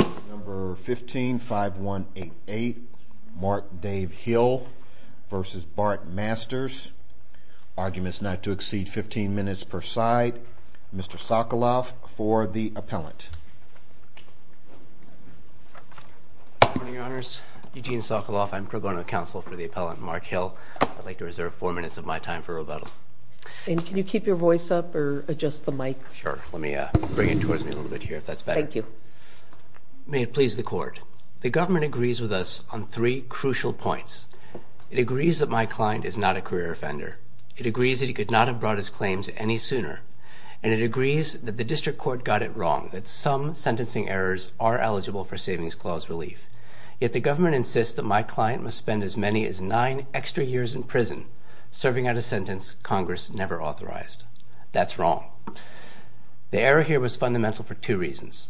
15-5188 Mark Dave Hill v. Bart Masters Arguments not to exceed 15 minutes per side. Mr. Sokoloff for the appellant. Good morning, Your Honors. Eugene Sokoloff. I'm pro bono counsel for the appellant, Mark Hill. I'd like to reserve four minutes of my time for rebuttal. And can you keep your voice up or adjust the mic? Sure. Let me bring it towards me a little bit here if that's better. Thank you. May it please the Court, the government agrees with us on three crucial points. It agrees that my client is not a career offender. It agrees that he could not have brought his claims any sooner. And it agrees that the district court got it wrong, that some sentencing errors are eligible for Savings Clause relief. Yet the government insists that my client must spend as many as nine extra years in prison serving out a sentence Congress never authorized. That's wrong. The error here was fundamental for two reasons.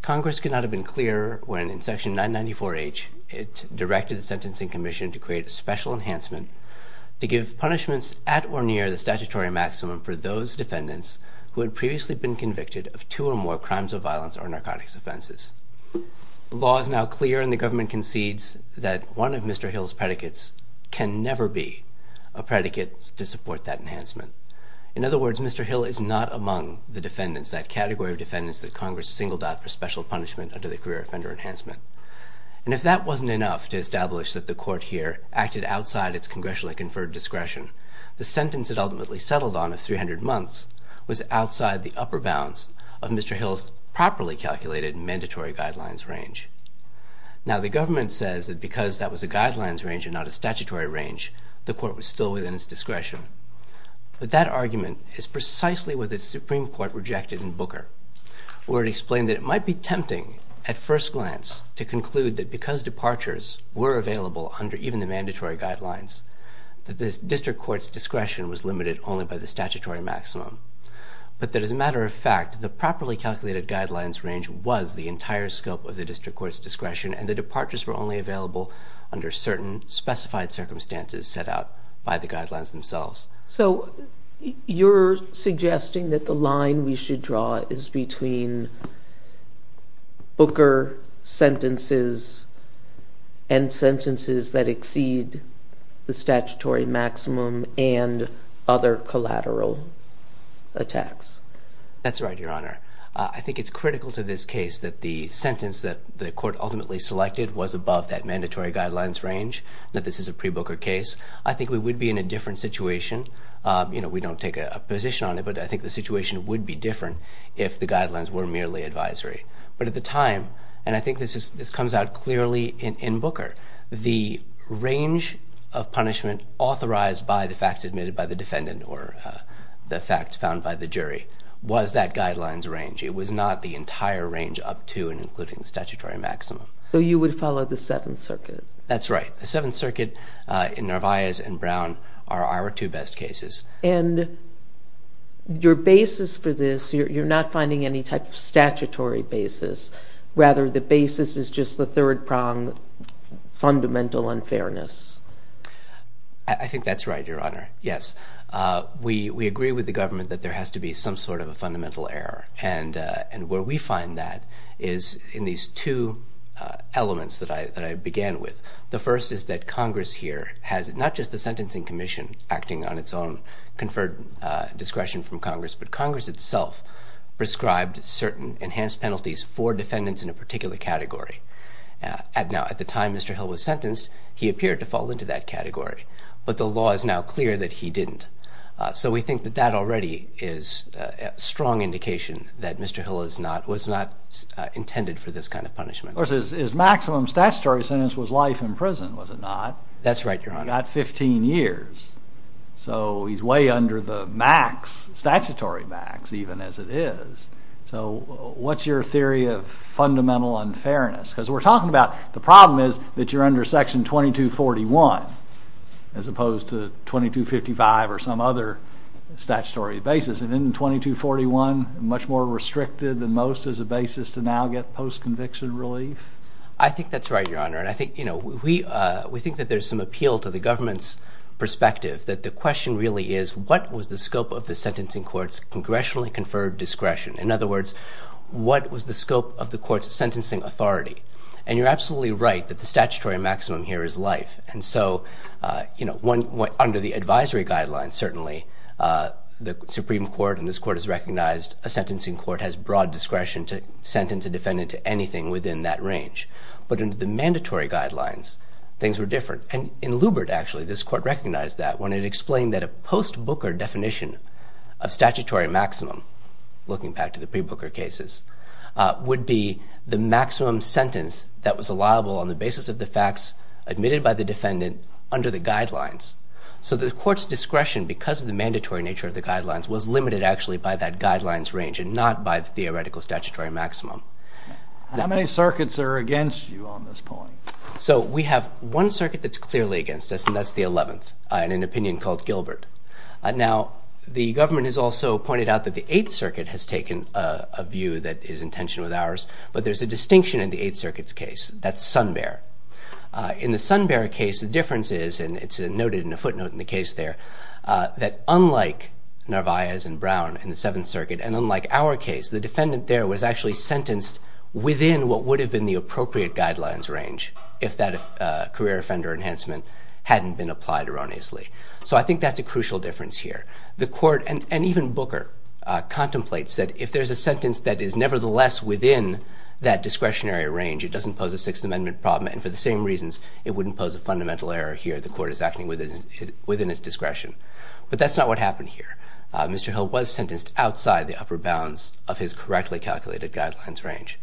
Congress could not have been clearer when, in Section 994H, it directed the Sentencing Commission to create a special enhancement to give punishments at or near the statutory maximum for those defendants who had previously been convicted of two or more crimes of violence or narcotics offenses. The law is now clear and the government concedes that one of Mr. Hill's predicates can never be a predicate to support that enhancement. In other words, Mr. Hill is not among the defendants, that category of defendants that Congress singled out for special punishment under the career offender enhancement. And if that wasn't enough to establish that the Court here acted outside its congressionally conferred discretion, the sentence it ultimately settled on of 300 months was outside the upper bounds of Mr. Hill's properly calculated mandatory guidelines range. Now, the government says that because that was a guidelines range and not a statutory range, the Court was still within its discretion. But that argument is precisely what the Supreme Court rejected in Booker, where it explained that it might be tempting at first glance to conclude that because departures were available under even the mandatory guidelines, that the District Court's discretion was limited only by the statutory maximum, but that as a matter of fact, the properly calculated guidelines range was the entire scope of the District Court's discretion and the departures were only available under certain specified circumstances set out by the guidelines themselves. So, you're suggesting that the line we should draw is between Booker sentences and sentences that exceed the statutory maximum and other collateral attacks. That's right, Your Honor. I think it's critical to this case that the sentence that the Court ultimately selected was above that mandatory guidelines range, that this is a pre-Booker case. I think we would be in a different situation. You know, we don't take a position on it, but I think the situation would be different if the guidelines were merely advisory. But at the time, and I think this comes out clearly in Booker, the range of punishment authorized by the facts admitted by the defendant or the facts found by the jury was that guidelines range. It was not the entire range up to and including the statutory maximum. So, you would follow the Seventh Circuit? That's right. The Seventh Circuit in Narvaez and Brown are our two best cases. And your basis for this, you're not finding any type of statutory basis. Rather, the basis is just the third prong, fundamental unfairness. I think that's right, Your Honor, yes. We agree with the government that there has to be some sort of a fundamental error. And where we find that is in these two elements that I began with. The first is that Congress here has not just the Sentencing Commission acting on its own conferred discretion from Congress, but Congress itself prescribed certain enhanced penalties for defendants in a particular category. Now, at the time Mr. Hill was sentenced, he appeared to fall into that category. But the law is now clear that he didn't. So we think that that already is a strong indication that Mr. Hill was not intended for this kind of punishment. Of course, his maximum statutory sentence was life in prison, was it not? That's right, Your Honor. He got 15 years. So he's way under the max, statutory max, even, as it is. So what's your theory of fundamental unfairness? Because we're talking about the problem is that you're under Section 2241, as opposed to 2255 or some other statutory basis. And isn't 2241 much more restricted than most as a basis to now get post-conviction relief? I think that's right, Your Honor. And I think, you know, we think that there's some appeal to the government's perspective, that the question really is what was the scope of the sentencing court's congressionally conferred discretion? In other words, what was the scope of the court's sentencing authority? And you're absolutely right that the statutory maximum here is life. And so, you know, under the advisory guidelines, certainly, the Supreme Court and this court has recognized a sentencing court has broad discretion to sentence a defendant to anything within that range. But under the mandatory guidelines, things were different. And in Lubert, actually, this court recognized that when it explained that a post-Booker definition of statutory maximum, looking back to the pre-Booker cases, would be the maximum sentence that was allowable on the basis of the facts admitted by the defendant under the guidelines. So the court's discretion, because of the mandatory nature of the guidelines, was limited, actually, by that guidelines range and not by the theoretical statutory maximum. How many circuits are against you on this point? So we have one circuit that's clearly against us, and that's the 11th, in an opinion called Gilbert. Now, the government has also pointed out that the 8th Circuit has taken a view that is in tension with ours, but there's a distinction in the 8th Circuit's case. That's Sunbear. In the Sunbear case, the difference is, and it's noted in a footnote in the case there, that unlike Narvaez and Brown in the 7th Circuit, and unlike our case, the defendant there was actually sentenced within what would have been the appropriate guidelines range if that career offender enhancement hadn't been applied erroneously. So I think that's a crucial difference here. The court, and even Booker, contemplates that if there's a sentence that is nevertheless within that discretionary range, it doesn't pose a Sixth Amendment problem, and for the same reasons, it wouldn't pose a fundamental error here. The court is acting within its discretion. But that's not what happened here. Mr. Hill was sentenced outside the upper bounds of his correctly calculated guidelines range.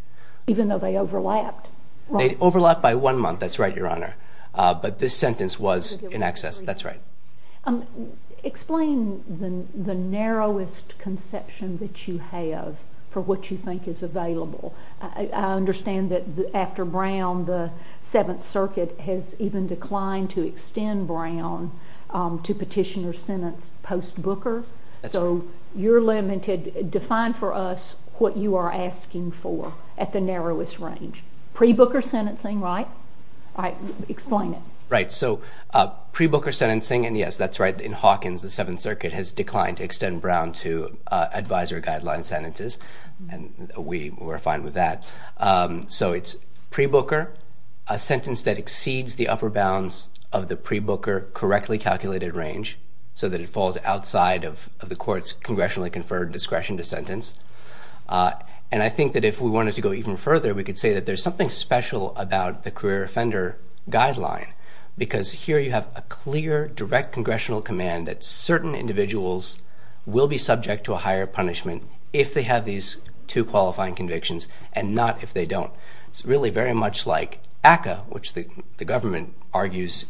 Even though they overlapped? They overlapped by one month. That's right, Your Honor. But this sentence was in excess. That's right. Explain the narrowest conception that you have for what you think is available. I understand that after Brown, the 7th Circuit has even declined to extend Brown to petitioner sentence post-Booker. That's right. So you're limited. Define for us what you are asking for at the narrowest range. Pre-Booker sentencing, right? All right. Explain it. Right. So pre-Booker sentencing, and yes, that's right. In Hawkins, the 7th Circuit has declined to extend Brown to advisor guideline sentences. We were fine with that. So it's pre-Booker, a sentence that exceeds the upper bounds of the pre-Booker correctly calculated range, so that it falls outside of the court's congressionally conferred discretion to sentence. And I think that if we wanted to go even further, we could say that there's something special about the career offender guideline, because here you have a clear, direct congressional command that certain individuals will be subject to a higher punishment if they have these two qualifying convictions and not if they don't. It's really very much like ACCA, which the government argues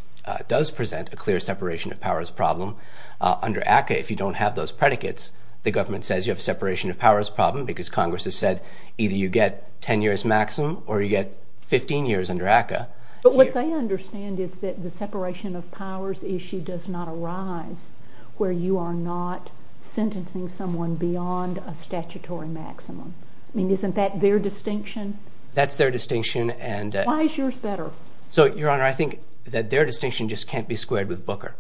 does present a clear separation of powers problem. Under ACCA, if you don't have those predicates, the government says you have a separation of powers problem because Congress has said either you get 10 years maximum or you get 15 years under ACCA. But what they understand is that the separation of powers issue does not arise where you are not sentencing someone beyond a statutory maximum. I mean, isn't that their distinction? That's their distinction. Why is yours better? So, Your Honor, I think that their distinction just can't be squared with Booker,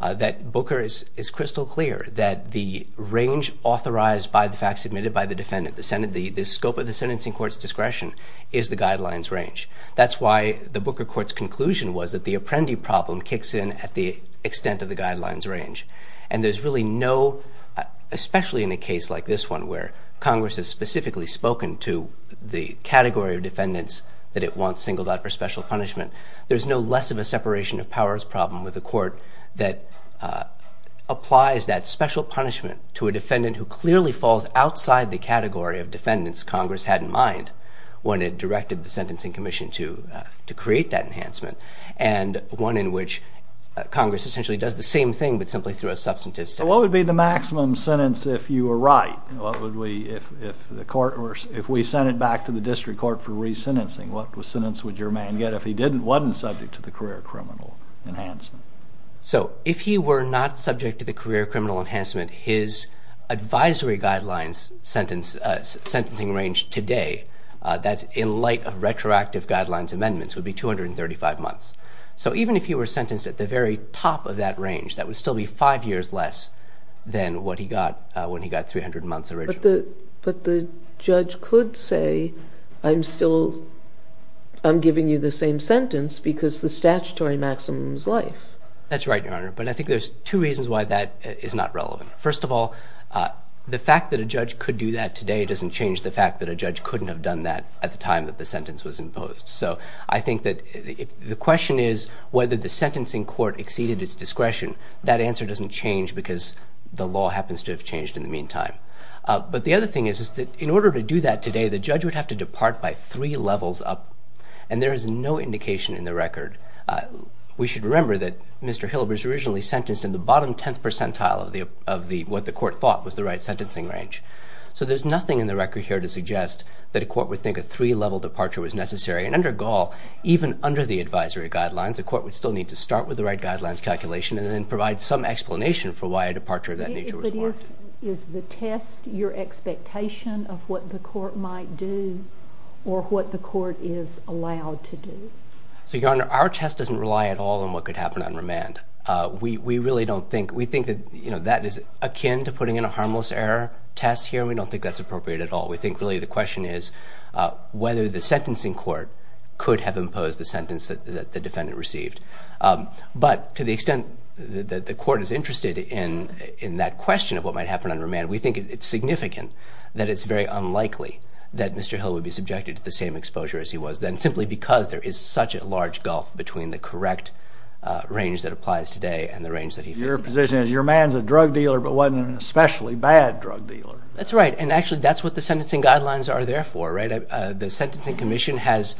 that Booker is crystal clear that the range authorized by the facts admitted by the defendant, the scope of the sentencing court's discretion is the guidelines range. That's why the Booker court's conclusion was that the apprendee problem kicks in at the extent of the guidelines range. And there's really no, especially in a case like this one where Congress has specifically spoken to the category of defendants that it wants singled out for special punishment, there's no less of a separation of powers problem with the court that applies that special punishment to a defendant who clearly falls outside the category of defendants Congress had in mind when it directed the Sentencing Commission to create that enhancement, and one in which Congress essentially does the same thing, but simply through a substantive... What would be the maximum sentence if you were right? If we sent it back to the district court for re-sentencing, what sentence would your man get if he wasn't subject to the career criminal enhancement? So, if he were not subject to the career criminal enhancement, his advisory guidelines sentencing range today, that's in light of retroactive guidelines amendments, would be 235 months. So, even if he were sentenced at the very top of that range, that would still be five years less than what he got when he got 300 months originally. But the judge could say, I'm giving you the same sentence because the statutory maximum is life. That's right, Your Honor, but I think there's two reasons why that is not relevant. First of all, the fact that a judge could do that today doesn't change the fact that a judge couldn't have done that at the time that the sentence was imposed. So, I think that the question is whether the sentencing court exceeded its discretion. That answer doesn't change because the law happens to have changed in the meantime. But the other thing is that in order to do that today, the judge would have to depart by three levels up, and there is no indication in the record. We should remember that Mr. Hill was originally sentenced in the bottom tenth percentile of what the court thought was the right sentencing range. So, there's nothing in the record here to suggest that a court would think a three-level departure was necessary. And under Gaul, even under the advisory guidelines, a court would still need to start with the right guidelines calculation and then provide some explanation for why a departure of that nature was warranted. But is the test your expectation of what the court might do or what the court is allowed to do? So, Your Honor, our test doesn't rely at all on what could happen on remand. We really don't think. We think that, you know, that is akin to putting in a harmless error test here. We don't think that's appropriate at all. We think really the question is whether the sentencing court could have imposed the sentence that the defendant received. But to the extent that the court is interested in that question of what might happen on remand, we think it's significant that it's very unlikely that Mr. Hill would be subjected to the same exposure as he was then, simply because there is such a large gulf between the correct range that applies today and the range that he fits today. Your position is your man's a drug dealer but wasn't an especially bad drug dealer. That's right. And, actually, that's what the sentencing guidelines are there for, right? The Sentencing Commission has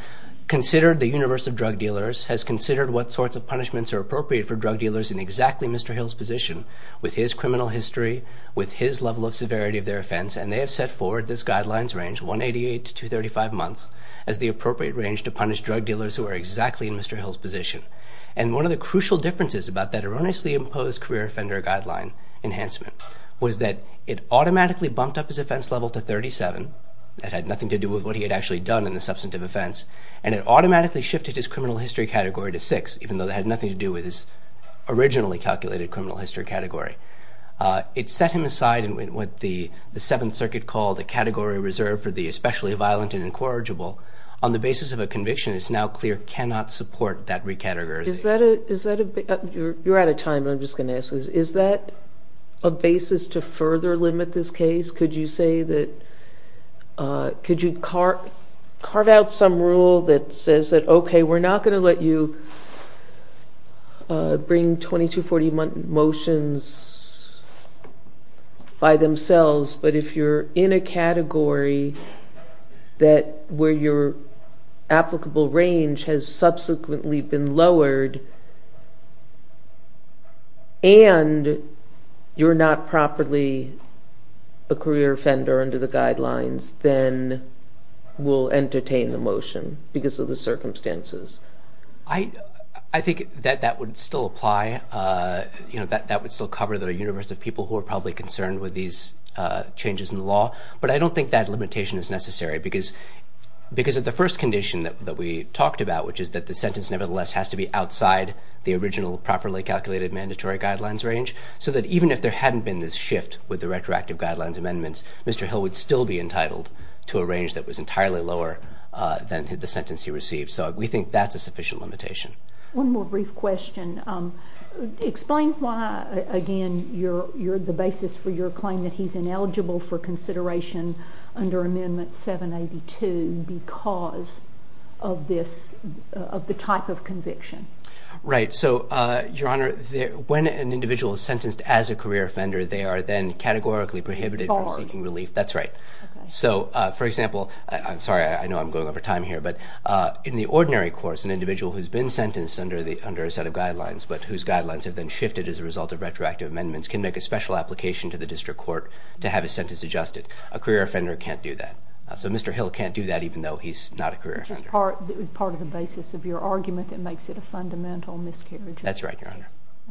considered the universe of drug dealers, has considered what sorts of punishments are appropriate for drug dealers in exactly Mr. Hill's position, with his criminal history, with his level of severity of their offense, and they have set forward this guideline's range, 188 to 235 months, as the appropriate range to punish drug dealers who are exactly in Mr. Hill's position. And one of the crucial differences about that erroneously imposed career offender guideline enhancement was that it automatically bumped up his offense level to 37, that had nothing to do with what he had actually done in the substantive offense, and it automatically shifted his criminal history category to 6, even though that had nothing to do with his originally calculated criminal history category. It set him aside in what the Seventh Circuit called a category reserved for the especially violent and incorrigible. On the basis of a conviction, it's now clear cannot support that recategorization. You're out of time, and I'm just going to ask this. Is that a basis to further limit this case? Could you carve out some rule that says that, okay, we're not going to let you bring 2240 motions by themselves, but if you're in a category where your applicable range has subsequently been lowered and you're not properly a career offender under the guidelines, then we'll entertain the motion because of the circumstances? I think that that would still apply. That would still cover the universe of people who are probably concerned with these changes in the law. But I don't think that limitation is necessary, because of the first condition that we talked about, which is that the sentence nevertheless has to be outside the original properly calculated mandatory guidelines range, so that even if there hadn't been this shift with the retroactive guidelines amendments, Mr. Hill would still be entitled to a range that was entirely lower than the sentence he received. So we think that's a sufficient limitation. One more brief question. Explain why, again, the basis for your claim that he's ineligible for consideration under Amendment 782 because of the type of conviction. Right. So, Your Honor, when an individual is sentenced as a career offender, they are then categorically prohibited from seeking relief. That's right. So, for example, I'm sorry, I know I'm going over time here, but in the ordinary course, an individual who's been sentenced under a set of guidelines, but whose guidelines have been shifted as a result of retroactive amendments, can make a special application to the district court to have his sentence adjusted. A career offender can't do that. So Mr. Hill can't do that, even though he's not a career offender. Which is part of the basis of your argument that makes it a fundamental miscarriage. That's right, Your Honor.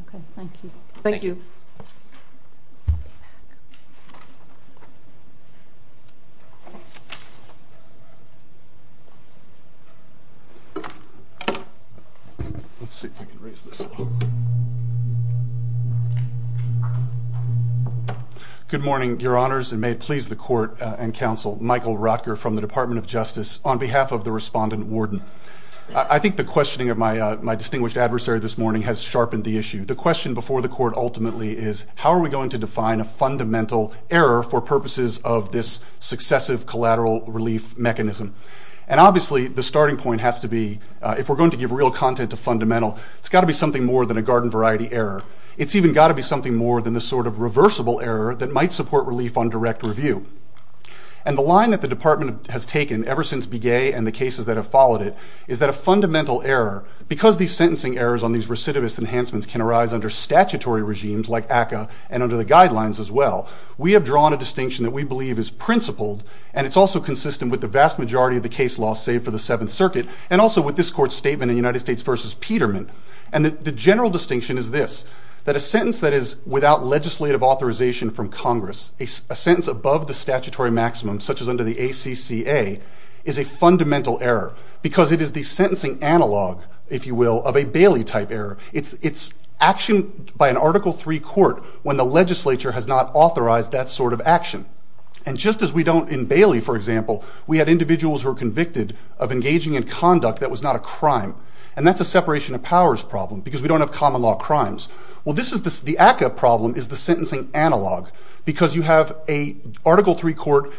Okay. Thank you. Thank you. Good morning, Your Honors, and may it please the court and counsel. Michael Rotker from the Department of Justice on behalf of the respondent warden. I think the questioning of my distinguished adversary this morning has sharpened the issue. The question before the court ultimately is, how are we going to define a fundamental error for purposes of this successive collateral relief mechanism? And obviously the starting point has to be, if we're going to give real content to fundamental, it's got to be something more than a garden variety error. It's even got to be something more than the sort of reversible error that might support relief on direct review. And the line that the department has taken ever since Begay and the cases that have followed it, is that a fundamental error, because these sentencing errors on these recidivist enhancements can arise under statutory regimes like ACCA and under the guidelines as well, we have drawn a distinction that we believe is principled, and it's also consistent with the vast majority of the case law, save for the Seventh Circuit, and also with this court's statement in United States v. Peterman. And the general distinction is this, that a sentence that is without legislative authorization from Congress, a sentence above the statutory maximum, such as under the ACCA, is a fundamental error, because it is the sentencing analog, if you will, of a Bailey-type error. It's action by an Article III court when the legislature has not authorized that sort of action. And just as we don't in Bailey, for example, we had individuals who were convicted of engaging in conduct that was not a crime, and that's a separation of powers problem, because we don't have common law crimes. Well this is the ACCA problem, is the sentencing analog, because you have a Article III court,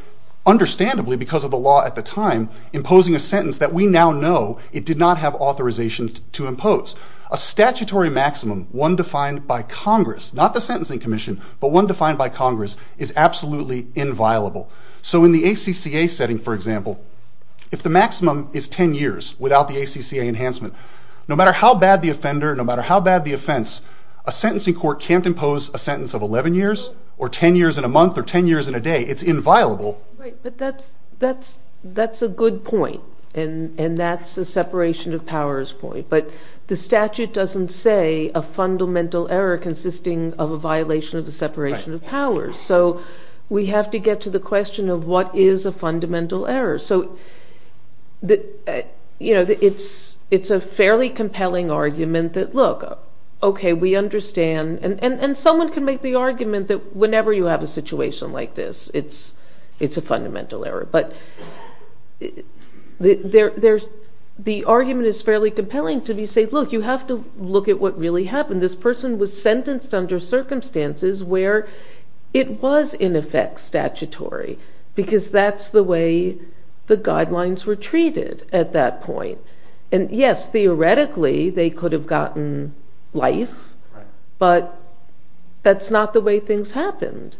understandably because of the law at the time, imposing a sentence that we now know it did not have authorization to impose. A statutory maximum, one defined by Congress, not the Sentencing Commission, but one defined by Congress, is absolutely inviolable. So in the ACCA setting, for example, if the maximum is 10 years without the ACCA enhancement, no matter how bad the offender, no matter how bad the offense, a sentencing court can't impose a sentence of 11 years, or 10 years in a month, or 10 years in a day. It's inviolable. Right, but that's a good point, and that's a separation of powers point. But the statute doesn't say a fundamental error consisting of a violation of the separation of powers. So we have to get to the question of what is a fundamental error. So it's a fairly compelling argument that, look, okay, we understand, and someone can make the argument that whenever you have a situation like this, it's a fundamental error. But the argument is fairly compelling to say, look, you have to look at what really happened. This person was sentenced under circumstances where it was in effect statutory, because that's the way the guidelines were treated at that point. And yes, theoretically, they could have gotten life, but that's not the way things happened.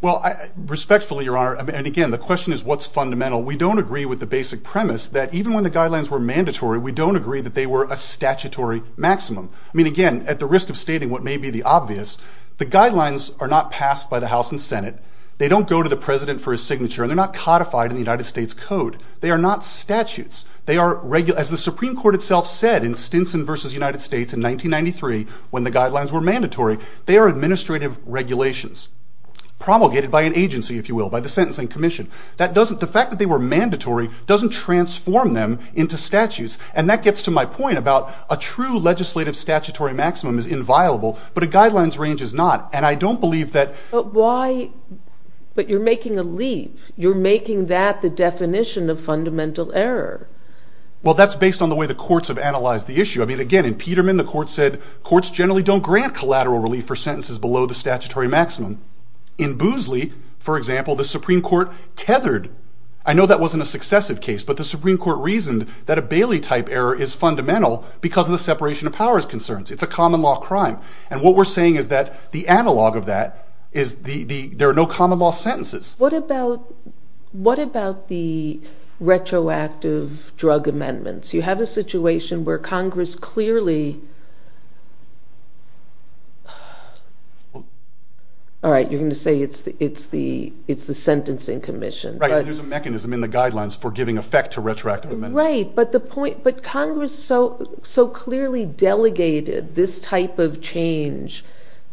Well, respectfully, Your Honor, and again, the question is what's fundamental. We don't agree with the basic premise that even when the guidelines were mandatory, we don't agree that they were a statutory maximum. I mean, again, at the risk of stating what may be the obvious, the guidelines are not passed by the House and Senate. They don't go to the president for a signature, and they're not codified in the United States Code. They are not statutes. They are, as the Supreme Court itself said in Stinson v. United States in 1993, when the guidelines were mandatory, they are administrative regulations, promulgated by an agency, if you will, by the Sentencing Commission. The fact that they were mandatory doesn't transform them into statutes. And that gets to my point about a true legislative statutory maximum is inviolable, but a guidelines range is not. And I don't believe that... But why? But you're making a leave. You're making that the definition of fundamental error. Well, that's based on the way the courts have analyzed the issue. I mean, again, in Peterman, the courts said courts generally don't grant collateral relief for sentences below the statutory maximum. In Boosley, for example, the Supreme Court tethered. I know that wasn't a successive case, but the Supreme Court reasoned that a Bailey-type error is fundamental because of the separation of powers concerns. It's a common law crime. And what we're saying is that the analog of that is there are no common law sentences. What about the retroactive drug amendments? You have a situation where Congress clearly... All right, you're going to say it's the Sentencing Commission. Right, there's a mechanism in the guidelines for giving effect to retroactive amendments. Right, but Congress so clearly delegated this type of change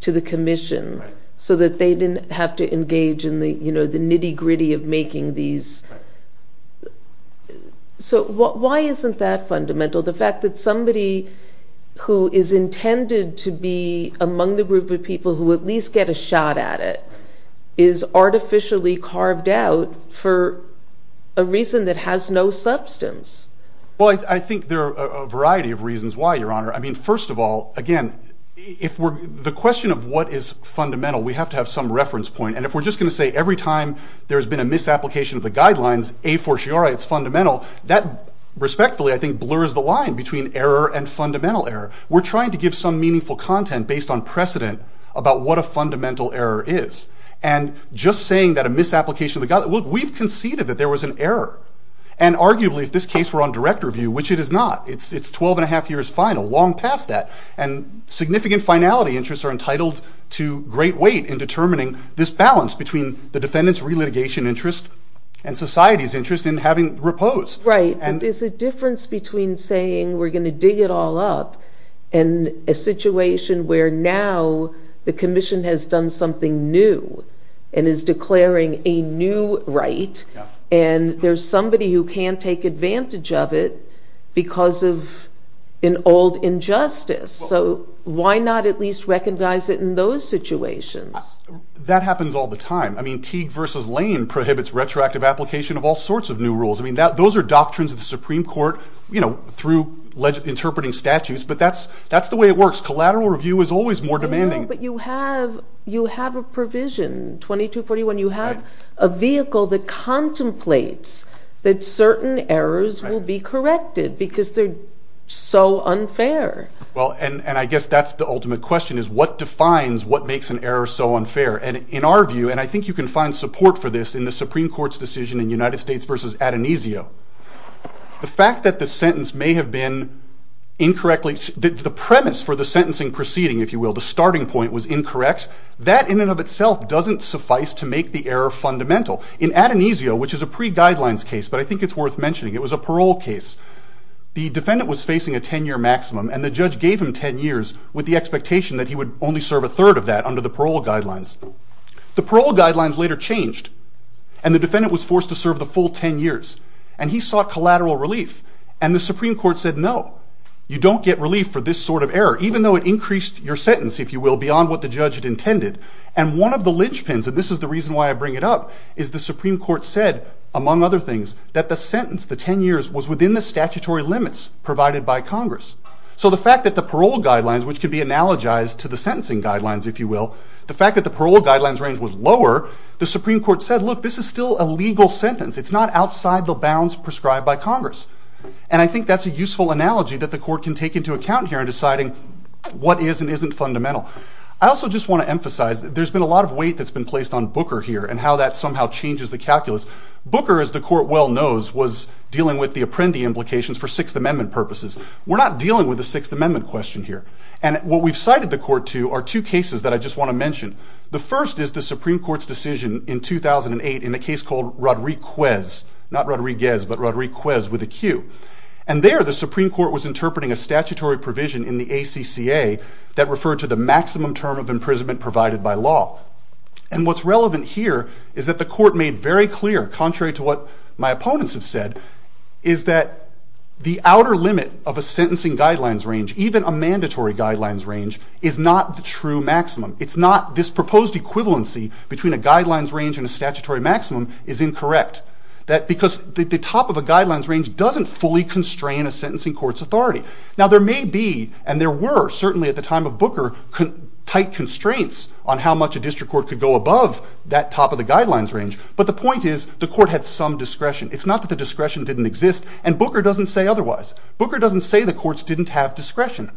to the commission so that they didn't have to engage in the nitty-gritty of making these. So why isn't that fundamental? The fact that somebody who is intended to be among the group of people who at least get a shot at it is artificially carved out for a reason that has no substance. Well, I think there are a variety of reasons why, Your Honor. First of all, again, the question of what is fundamental, we have to have some reference point. And if we're just going to say every time there's been a misapplication of the guidelines, a fortiori it's fundamental, that respectfully I think blurs the line between error and fundamental error. We're trying to give some meaningful content based on precedent about what a fundamental error is. And just saying that a misapplication of the guidelines, we've conceded that there was an error. And arguably if this case were on direct review, which it is not, it's 12 and a half years final, long past that. And significant finality interests are entitled to great weight in determining this balance between the defendant's relitigation interest and society's interest in having repose. Right, but there's a difference between saying we're going to dig it all up and a situation where now the commission has done something new and is declaring a new right, and there's somebody who can't take advantage of it because of an old injustice. So why not at least recognize it in those situations? That happens all the time. I mean Teague v. Lane prohibits retroactive application of all sorts of new rules. I mean those are doctrines of the Supreme Court, through interpreting statutes, but that's the way it works. Collateral review is always more demanding. But you have a provision, 2241, you have a vehicle that contemplates that certain errors will be corrected because they're so unfair. Well, and I guess that's the ultimate question, is what defines what makes an error so unfair? And in our view, and I think you can find support for this in the Supreme Court's decision in United States v. Adonisio, the fact that the sentence may have been incorrectly, the premise for the sentencing proceeding, if you will, the starting point was incorrect, that in and of itself doesn't suffice to make the error fundamental. In Adonisio, which is a pre-guidelines case, but I think it's worth mentioning, it was a parole case. The defendant was facing a 10-year maximum, and the judge gave him 10 years with the expectation that he would only serve a third of that under the parole guidelines. The parole guidelines later changed, and the defendant was forced to serve the full 10 years. And he sought collateral relief. And the Supreme Court said, no, you don't get relief for this sort of error, even though it increased your sentence, if you will, beyond what the judge had intended. And one of the linchpins, and this is the reason why I bring it up, is the Supreme Court said, among other things, that the sentence, the 10 years, was within the statutory limits provided by Congress. So the fact that the parole guidelines, which can be analogized to the sentencing guidelines, if you will, the fact that the parole guidelines range was lower, the Supreme Court said, look, this is still a legal sentence. It's not outside the bounds prescribed by Congress. And I think that's a useful analogy that the court can take into account here in deciding what is and isn't fundamental. I also just want to emphasize that there's been a lot of weight that's been placed on Booker here and how that somehow changes the calculus. Booker, as the court well knows, was dealing with the Apprendi implications for Sixth Amendment purposes. We're not dealing with a Sixth Amendment question here. And what we've cited the court to are two cases that I just want to mention. The first is the Supreme Court's decision in 2008 in a case called Rodriguez, not Rodriguez, but Rodriguez with a Q. And there the Supreme Court was interpreting a statutory provision in the ACCA that referred to the maximum term of imprisonment provided by law. And what's relevant here is that the court made very clear, contrary to what my opponents have said, is that the outer limit of a sentencing guidelines range, even a mandatory guidelines range, is not the true maximum. It's not this proposed equivalency between a guidelines range and a statutory maximum is incorrect. Because the top of a guidelines range doesn't fully constrain a sentencing court's authority. Now there may be, and there were, certainly at the time of Booker, tight constraints on how much a district court could go above that top of the guidelines range. But the point is the court had some discretion. It's not that the discretion didn't exist. And Booker doesn't say otherwise. Booker doesn't say the courts didn't have discretion.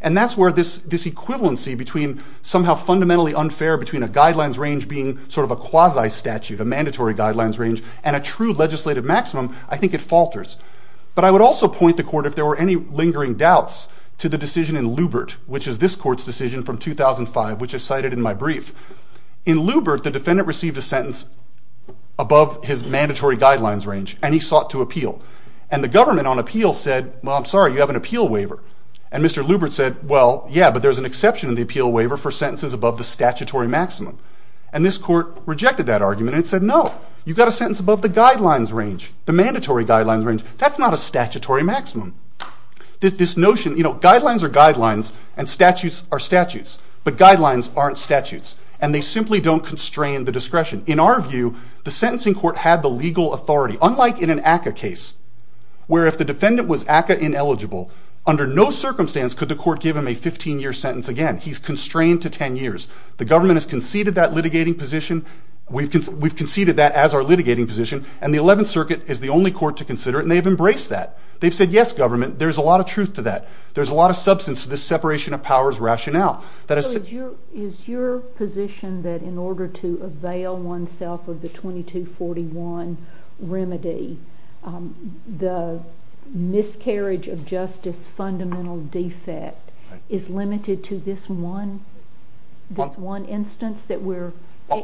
And that's where this equivalency between somehow fundamentally unfair between a guidelines range being sort of a quasi-statute, a mandatory guidelines range, and a true legislative maximum, I think it falters. But I would also point the court, if there were any lingering doubts, to the decision in Lubert, which is this court's decision from 2005, which is cited in my brief. In Lubert, the defendant received a sentence above his mandatory guidelines range, and he sought to appeal. And the government on appeal said, well, I'm sorry, you have an appeal waiver. And Mr. Lubert said, well, yeah, but there's an exception to the appeal waiver for sentences above the statutory maximum. And this court rejected that argument and said, no, you've got a sentence above the guidelines range, the mandatory guidelines range. That's not a statutory maximum. This notion, you know, guidelines are guidelines, and statutes are statutes. But guidelines aren't statutes. And they simply don't constrain the discretion. In our view, the sentencing court had the legal authority, unlike in an ACCA case, where if the defendant was ACCA-ineligible under no circumstance could the court give him a 15-year sentence again. He's constrained to 10 years. The government has conceded that litigating position. We've conceded that as our litigating position. And the Eleventh Circuit is the only court to consider it, and they've embraced that. They've said, yes, government, there's a lot of truth to that. There's a lot of substance to this separation of powers rationale. Is your position that in order to avail oneself of the 2241 remedy, the discarriage of justice fundamental defect is limited to this one instance that we're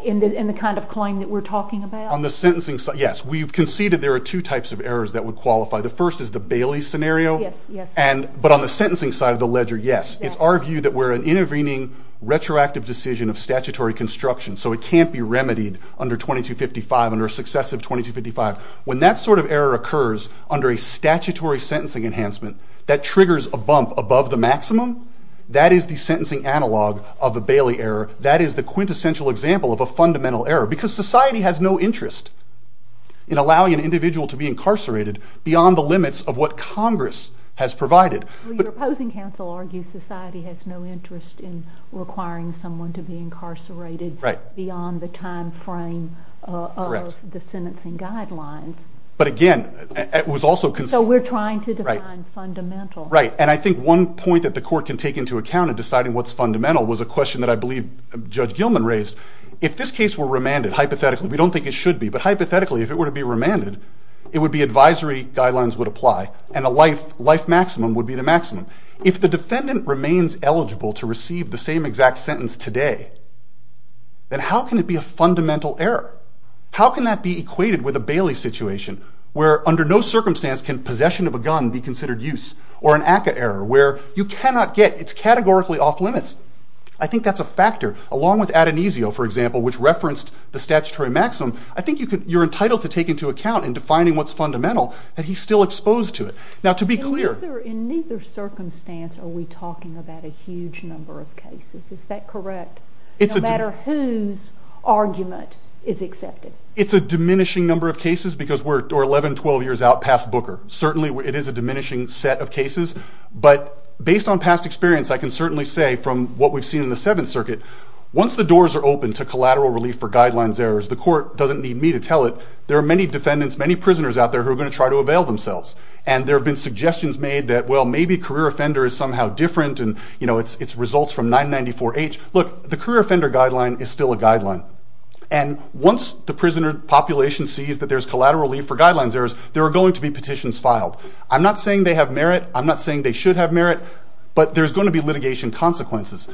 in the kind of claim that we're talking about? On the sentencing side, yes. We've conceded there are two types of errors that would qualify. The first is the Bailey scenario. But on the sentencing side of the ledger, yes. It's our view that we're an intervening retroactive decision of statutory construction, so it can't be remedied under 2255, under a successive 2255. When that sort of error occurs under a statutory sentencing enhancement that triggers a bump above the maximum, that is the sentencing analog of the Bailey error. That is the quintessential example of a fundamental error, because society has no interest in allowing an individual to be incarcerated beyond the limits of what Congress has provided. Your opposing counsel argues society has no interest in requiring someone to be incarcerated beyond the time frame of the sentencing guidelines. But again, it was also... So we're trying to define fundamental. Right. And I think one point that the court can take into account in deciding what's fundamental was a question that I believe Judge Gilman raised. If this case were remanded, hypothetically, we don't think it should be, but hypothetically, if it were to be remanded, it would be advisory guidelines would apply, and a life maximum would be the maximum. If the defendant remains eligible to receive the same exact sentence today, then how can it be a fundamental error? How can that be equated with a Bailey situation, where under no circumstance can possession of a gun be considered use? Or an ACCA error, where you cannot get... It's categorically off limits. I think that's a factor. Along with Adonisio, for example, which referenced the statutory maximum, I think you're entitled to take into account in defining what's fundamental that he's still exposed to it. Now, to be clear... In neither circumstance are we talking about a huge number of cases. Is that correct? No matter whose argument is accepted. It's a diminishing number of cases, because we're 11, 12 years out past Booker. Certainly, it is a diminishing set of cases. But, based on past experience, I can certainly say, from what we've seen in the Seventh Circuit, once the doors are open to collateral relief for guidelines errors, the court doesn't need me to tell it. There are many defendants, many prisoners out there, who are going to try to avail themselves. And there have been suggestions made that, well, maybe career offender is somehow different, and, you know, it's results from 994-H. Look, the career offender guideline is still a guideline. And once the prisoner population sees that there's collateral relief for guidelines errors, there are going to be petitions filed. I'm not saying they have merit. I'm not saying they should have merit. But there's going to be litigation consequences.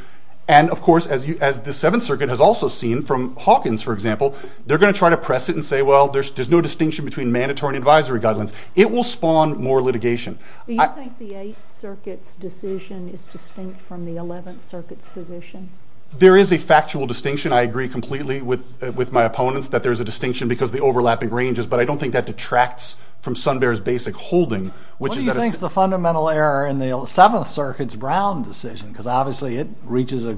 And, of course, as the Seventh Circuit has also seen, from Hawkins, for example, they're going to try to press it and say, well, there's no distinction between mandatory and advisory guidelines. It will spawn more litigation. Do you think the Eighth Circuit's decision is distinct from the Seventh Circuit's decision? There is a factual distinction. I agree completely with my opponents that there's a distinction because of the overlapping ranges. But I don't think that detracts from Sunbear's basic holding. What do you think is the fundamental error in the Seventh Circuit's Brown decision? Because, obviously, it reaches a...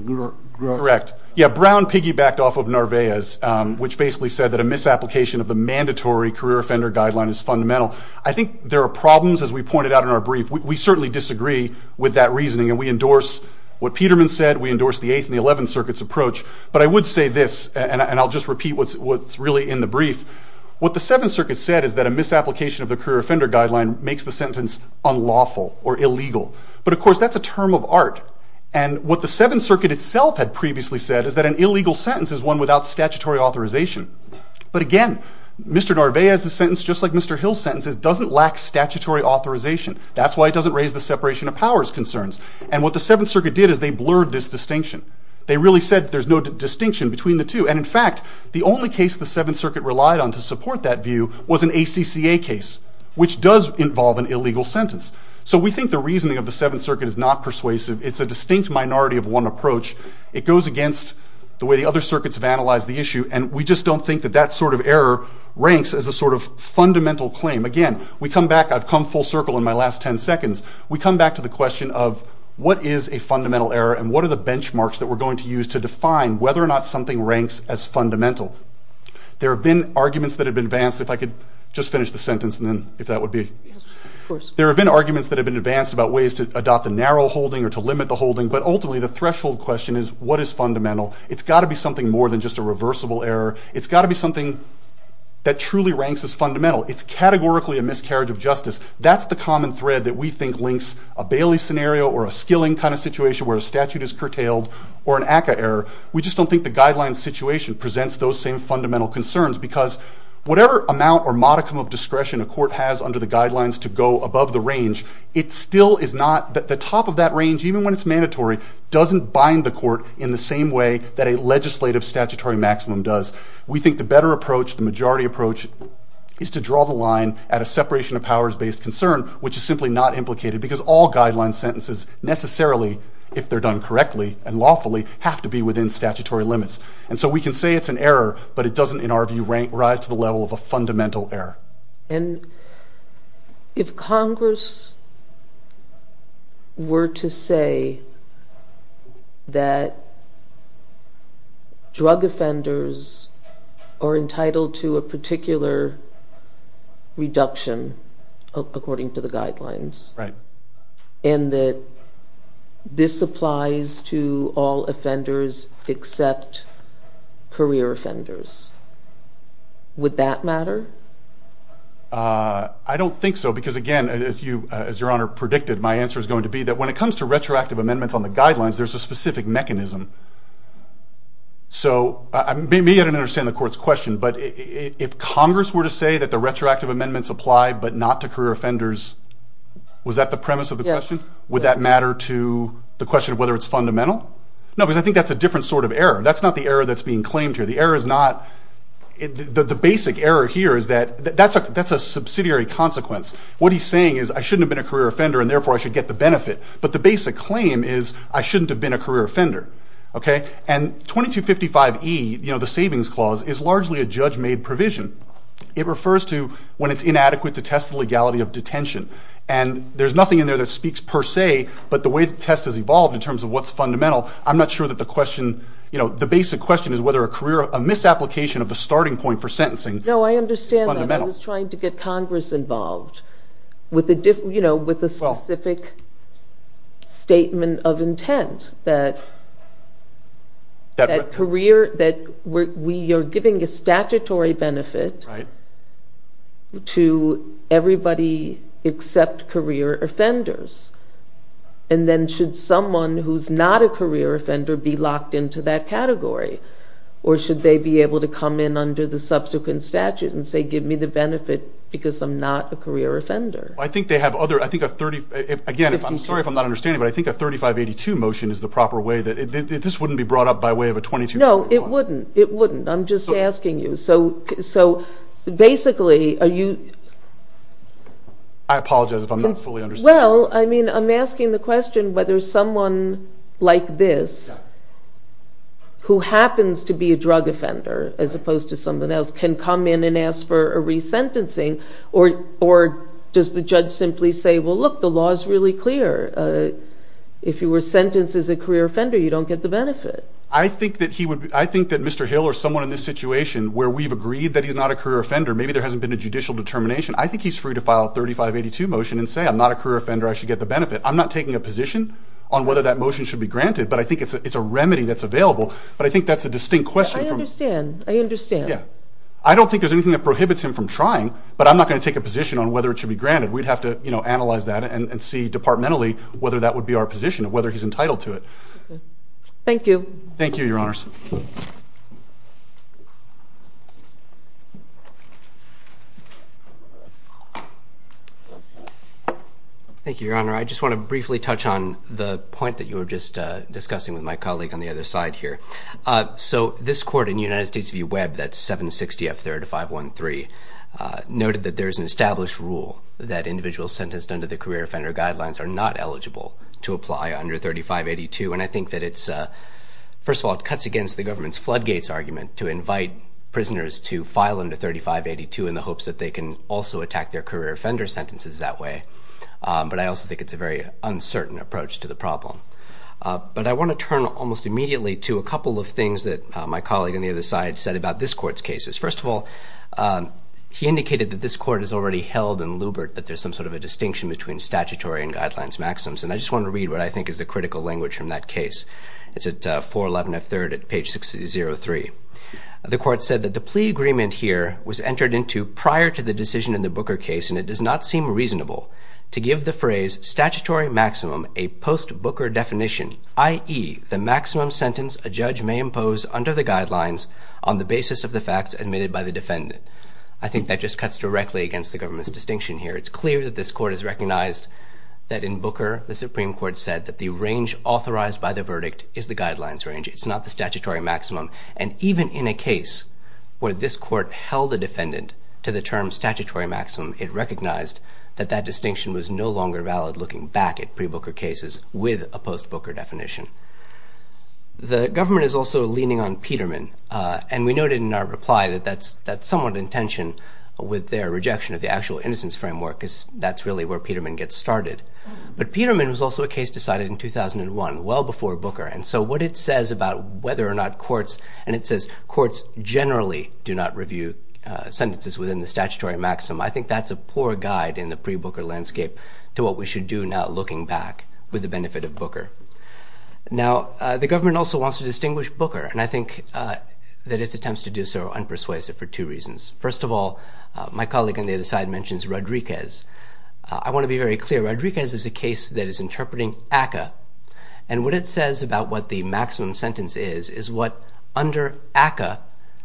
Correct. Yeah, Brown piggybacked off of Narvaez, which basically said that a misapplication of the mandatory career offender guideline is fundamental. I think there are problems, as we pointed out in our brief. We certainly disagree with that reasoning, and we endorse what Peterman said. We endorse the Eighth and the Eleventh Circuit's approach. But I would say this, and I'll just repeat what's really in the brief. What the Seventh Circuit said is that a misapplication of the career offender guideline makes the sentence unlawful or illegal. But, of course, that's a term of art. And what the Seventh Circuit itself had previously said is that an illegal sentence is one without statutory authorization. But, again, Mr. Narvaez's sentence, just like Mr. Hill's sentence, doesn't lack statutory authorization. That's why it doesn't raise the separation of powers concerns. And what the Seventh Circuit did is they blurred this distinction. They really said there's no distinction between the two. And, in fact, the only case the Seventh Circuit relied on to support that view was an ACCA case, which does involve an illegal sentence. So we think the reasoning of the Seventh Circuit is not persuasive. It's a distinct minority of one approach. It goes against the way the other circuits have analyzed the issue, and we just don't think that that sort of error ranks as a sort of fundamental claim. Again, we come back, I've come full circle in my last ten seconds, we come back to the question of what is a fundamental error, and what are the benchmarks that we're going to use to define whether or not something ranks as fundamental. There have been arguments that have been advanced, if I could just finish the sentence and then, if that would be... There have been arguments that have been advanced about ways to adopt a narrow holding or to limit the holding, but ultimately the threshold question is what is fundamental? It's got to be something more than just a reversible error. It's got to be something that truly is a miscarriage of justice. That's the common thread that we think links a Bailey scenario or a Skilling kind of situation where a statute is curtailed, or an ACCA error. We just don't think the guidelines situation presents those same fundamental concerns because whatever amount or modicum of discretion a court has under the guidelines to go above the range, it still is not... The top of that range, even when it's mandatory, doesn't bind the court in the same way that a legislative statutory maximum does. We think the better approach, the majority approach, is to draw the line at a separation of powers based concern, which is simply not implicated because all guidelines sentences, necessarily, if they're done correctly and lawfully, have to be within statutory limits. And so we can say it's an error, but it doesn't, in our view, rise to the level of a fundamental error. And if Congress were to say that drug offenders are entitled to a particular reduction, according to the guidelines, and that this applies to all offenders except career offenders, would that matter? I don't think so because, again, as Your Honor predicted, my answer is going to be that when it comes to retroactive amendments on the guidelines, there's a specific mechanism. So maybe I don't understand the Court's question, but if Congress were to say that the retroactive amendments apply but not to career offenders, was that the premise of the question? Would that matter to the question of whether it's fundamental? No, because I think that's a different sort of error. That's not the error that's being claimed here. The error is not...the basic error here is that that's a subsidiary consequence. What he's saying is I shouldn't have been a career offender and therefore I should get the benefit. But the basic claim is I shouldn't have been a career offender. And 2255E, the Savings Clause, is largely a judge-made provision. It refers to when it's inadequate to test the legality of detention. And there's nothing in there that speaks per se, but the way the test has evolved in terms of what's fundamental, I'm not sure that the question... the basic question is whether a career...a misapplication of the starting point for sentencing is fundamental. No, I understand that. I was trying to get Congress involved with a specific statement of intent that career... that we are giving a statutory benefit to everybody except career offenders. And then should someone who's not a career offender be locked into that category? Or should they be able to come in under the subsequent statute and say give me the benefit because I'm not a career offender? I think they have other...I think a 30...again, I'm sorry if I'm not understanding, but I think a 3582 motion is the proper way that... this wouldn't be brought up by way of a 2251. No, it wouldn't. It wouldn't. I'm just asking you. So basically, are you... I apologize if I'm not fully understanding. Well, I mean, I'm asking the question whether someone like this who happens to be a drug offender as opposed to someone else can come in and ask for a resentencing or does the judge simply say, well, look, the law is really clear. If you were sentenced as a career offender, you don't get the benefit. I think that he would...I think that Mr. Hill or someone in this situation where we've agreed that he's not a career offender, maybe there hasn't been a judicial determination, I think he's free to file a 3582 motion and say I'm not a career offender. I should get the benefit. I'm not taking a position on whether that motion should be granted, but I think it's a remedy that's available. But I think that's a distinct question. I understand. I understand. Yeah. I don't think there's anything that prohibits him from trying, but I'm not going to take a position on whether it should be granted. We'd have to analyze that and see departmentally whether that would be our position, whether he's entitled to it. Thank you. Thank you, Your Honors. Thank you, Your Honor. I just want to briefly touch on the point that you were just discussing with my colleague on the other side here. So this court in United States v. Webb, that's 760F 3513, noted that there is an established rule that individuals sentenced under the career offender guidelines are not eligible to apply under 3582. And I think that it's, first of all, it cuts against the government's floodgates argument to invite prisoners to file under 3582 in the hopes that they can also attack their career offender sentences that way. But I also think it's a very uncertain approach to the problem. But I want to turn almost immediately to a couple of things that the other side said about this court's cases. First of all, he indicated that this court has already held in Lubert that there's some sort of a distinction between statutory and guidelines maxims. And I just want to read what I think is the critical language from that case. It's at 411F 3rd at page 603. The court said that the plea agreement here was entered into prior to the decision in the Booker case, and it does not seem reasonable to give the phrase statutory maximum a post-Booker definition, i.e., the maximum sentence a judge may impose under the guidelines on the basis of the facts admitted by the defendant. I think that just cuts directly against the government's distinction here. It's clear that this court has recognized that in Booker, the Supreme Court said that the range authorized by the verdict is the guidelines range. It's not the statutory maximum. And even in a case where this court held a defendant to the term statutory maximum, it recognized that that distinction was no longer valid looking back at pre-Booker cases with a post-Booker The government is also leaning on Peterman, and we noted in our reply that that's somewhat in tension with their rejection of the actual innocence framework because that's really where Peterman gets started. But Peterman was also a case decided in 2001, well before Booker, and so what it says about whether or not courts, and it says courts generally do not review sentences within the statutory maximum, I think that's a poor guide in the pre-Booker landscape to what we should do now looking back with the benefit of Booker. Now, the government also wants to distinguish Booker, and I think that its attempts to do so are unpersuasive for two reasons. First of all, my colleague on the other side mentions Rodriguez. I want to be very clear, Rodriguez is a case that is interpreting ACCA, and what it says about what the maximum sentence is is what under ACCA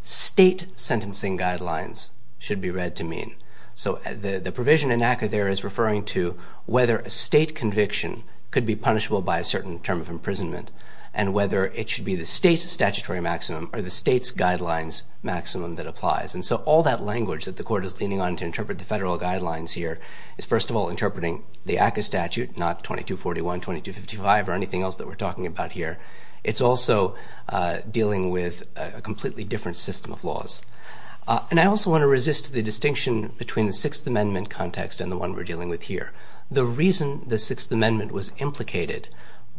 state sentencing guidelines should be read to mean. So the provision in ACCA there is referring to whether a state conviction could be punishable by a certain term of imprisonment, and whether it should be the state's statutory maximum or the state's guidelines maximum that applies. And so all that language that the Court is leaning on to interpret the federal guidelines here is first of all interpreting the ACCA statute, not 2241, 2255, or anything else that we're talking about here. It's also dealing with a completely different system of laws. And I also want to resist the distinction between the Sixth Amendment context and the one we're talking about here, which is that the Sixth Amendment was implicated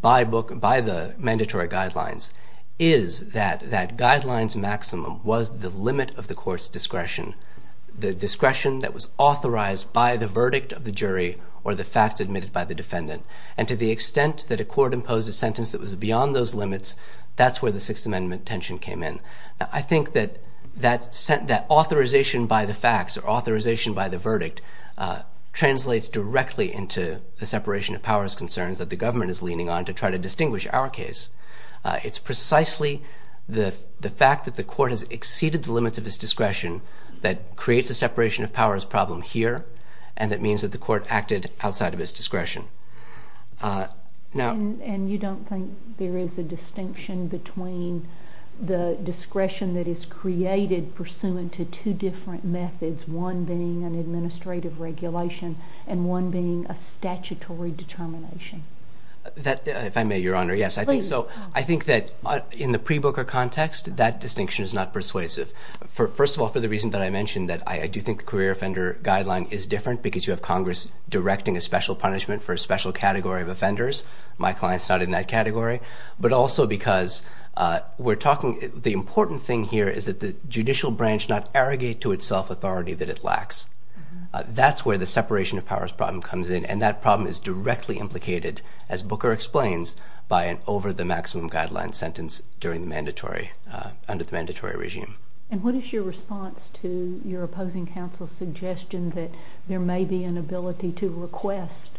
by the mandatory guidelines is that that guidelines maximum was the limit of the Court's discretion, the discretion that was authorized by the verdict of the jury or the facts admitted by the defendant. And to the extent that a Court imposed a sentence that was beyond those limits, that's where the Sixth Amendment tension came in. I think that that authorization by the facts or authorization by the discretion of powers concerns that the government is leaning on to try to distinguish our case. It's precisely the fact that the Court has exceeded the limits of its discretion that creates a separation of powers problem here and that means that the Court acted outside of its discretion. And you don't think there is a distinction between the discretion that is created pursuant to two different methods, one being an administrative regulation and one being a statutory determination? If I may, Your Honor, yes. I think that in the pre-Booker context that distinction is not persuasive. First of all, for the reason that I mentioned that I do think the career offender guideline is different because you have Congress directing a special punishment for a special category of offenders. My client's not in that category. But also because we're talking, the important thing here is that the judicial branch not arrogate to itself authority that it lacks. That's where the separation of powers problem comes in and that problem is directly implicated, as Booker explains, by an over the maximum guideline sentence during the mandatory, under the mandatory regime. And what is your response to your opposing counsel's suggestion that there may be an ability to request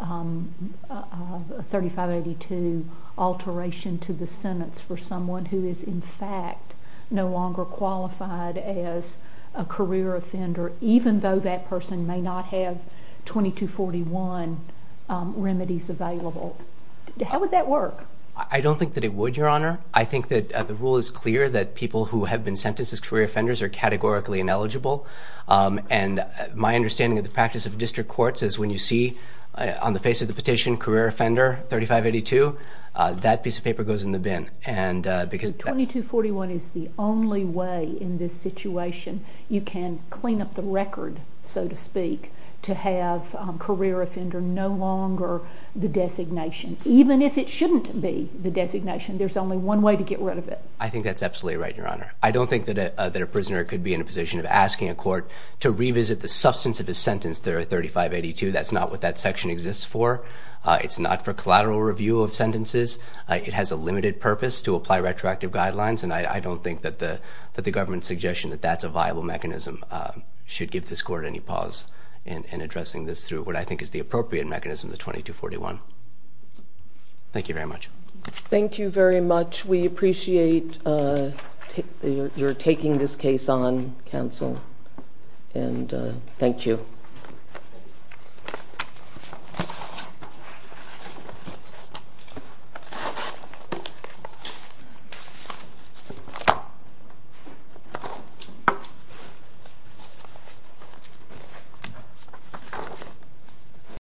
a 3582 alteration to the sentence for someone who is in fact no longer qualified as a career offender even though that person may not have 2241 remedies available? How would that work? I don't think that it would, Your Honor. I think that the rule is clear that people who have been sentenced as career offenders are categorically ineligible and my understanding of the practice of district courts is when you see on the face of the petition, career offender 3582, that piece of paper goes in the bin. 2241 is the only way in this situation you can clean up the record, so to speak, to have career offender no longer the designation. Even if it shouldn't be the designation, there's only one way to get rid of it. I think that's absolutely right, Your Honor. I don't think that a prisoner could be in a position of asking a court to revisit the substance of his sentence there at 3582. That's not what that section exists for. It's not for collateral review of sentences. It has a limited purpose to apply retroactive guidelines, and I don't think that the government's suggestion that that's a viable mechanism should give this court any pause in addressing this through what I think is the appropriate mechanism, the 2241. Thank you very much. Thank you very much. We appreciate your taking this case on, counsel, and thank you. Thank you.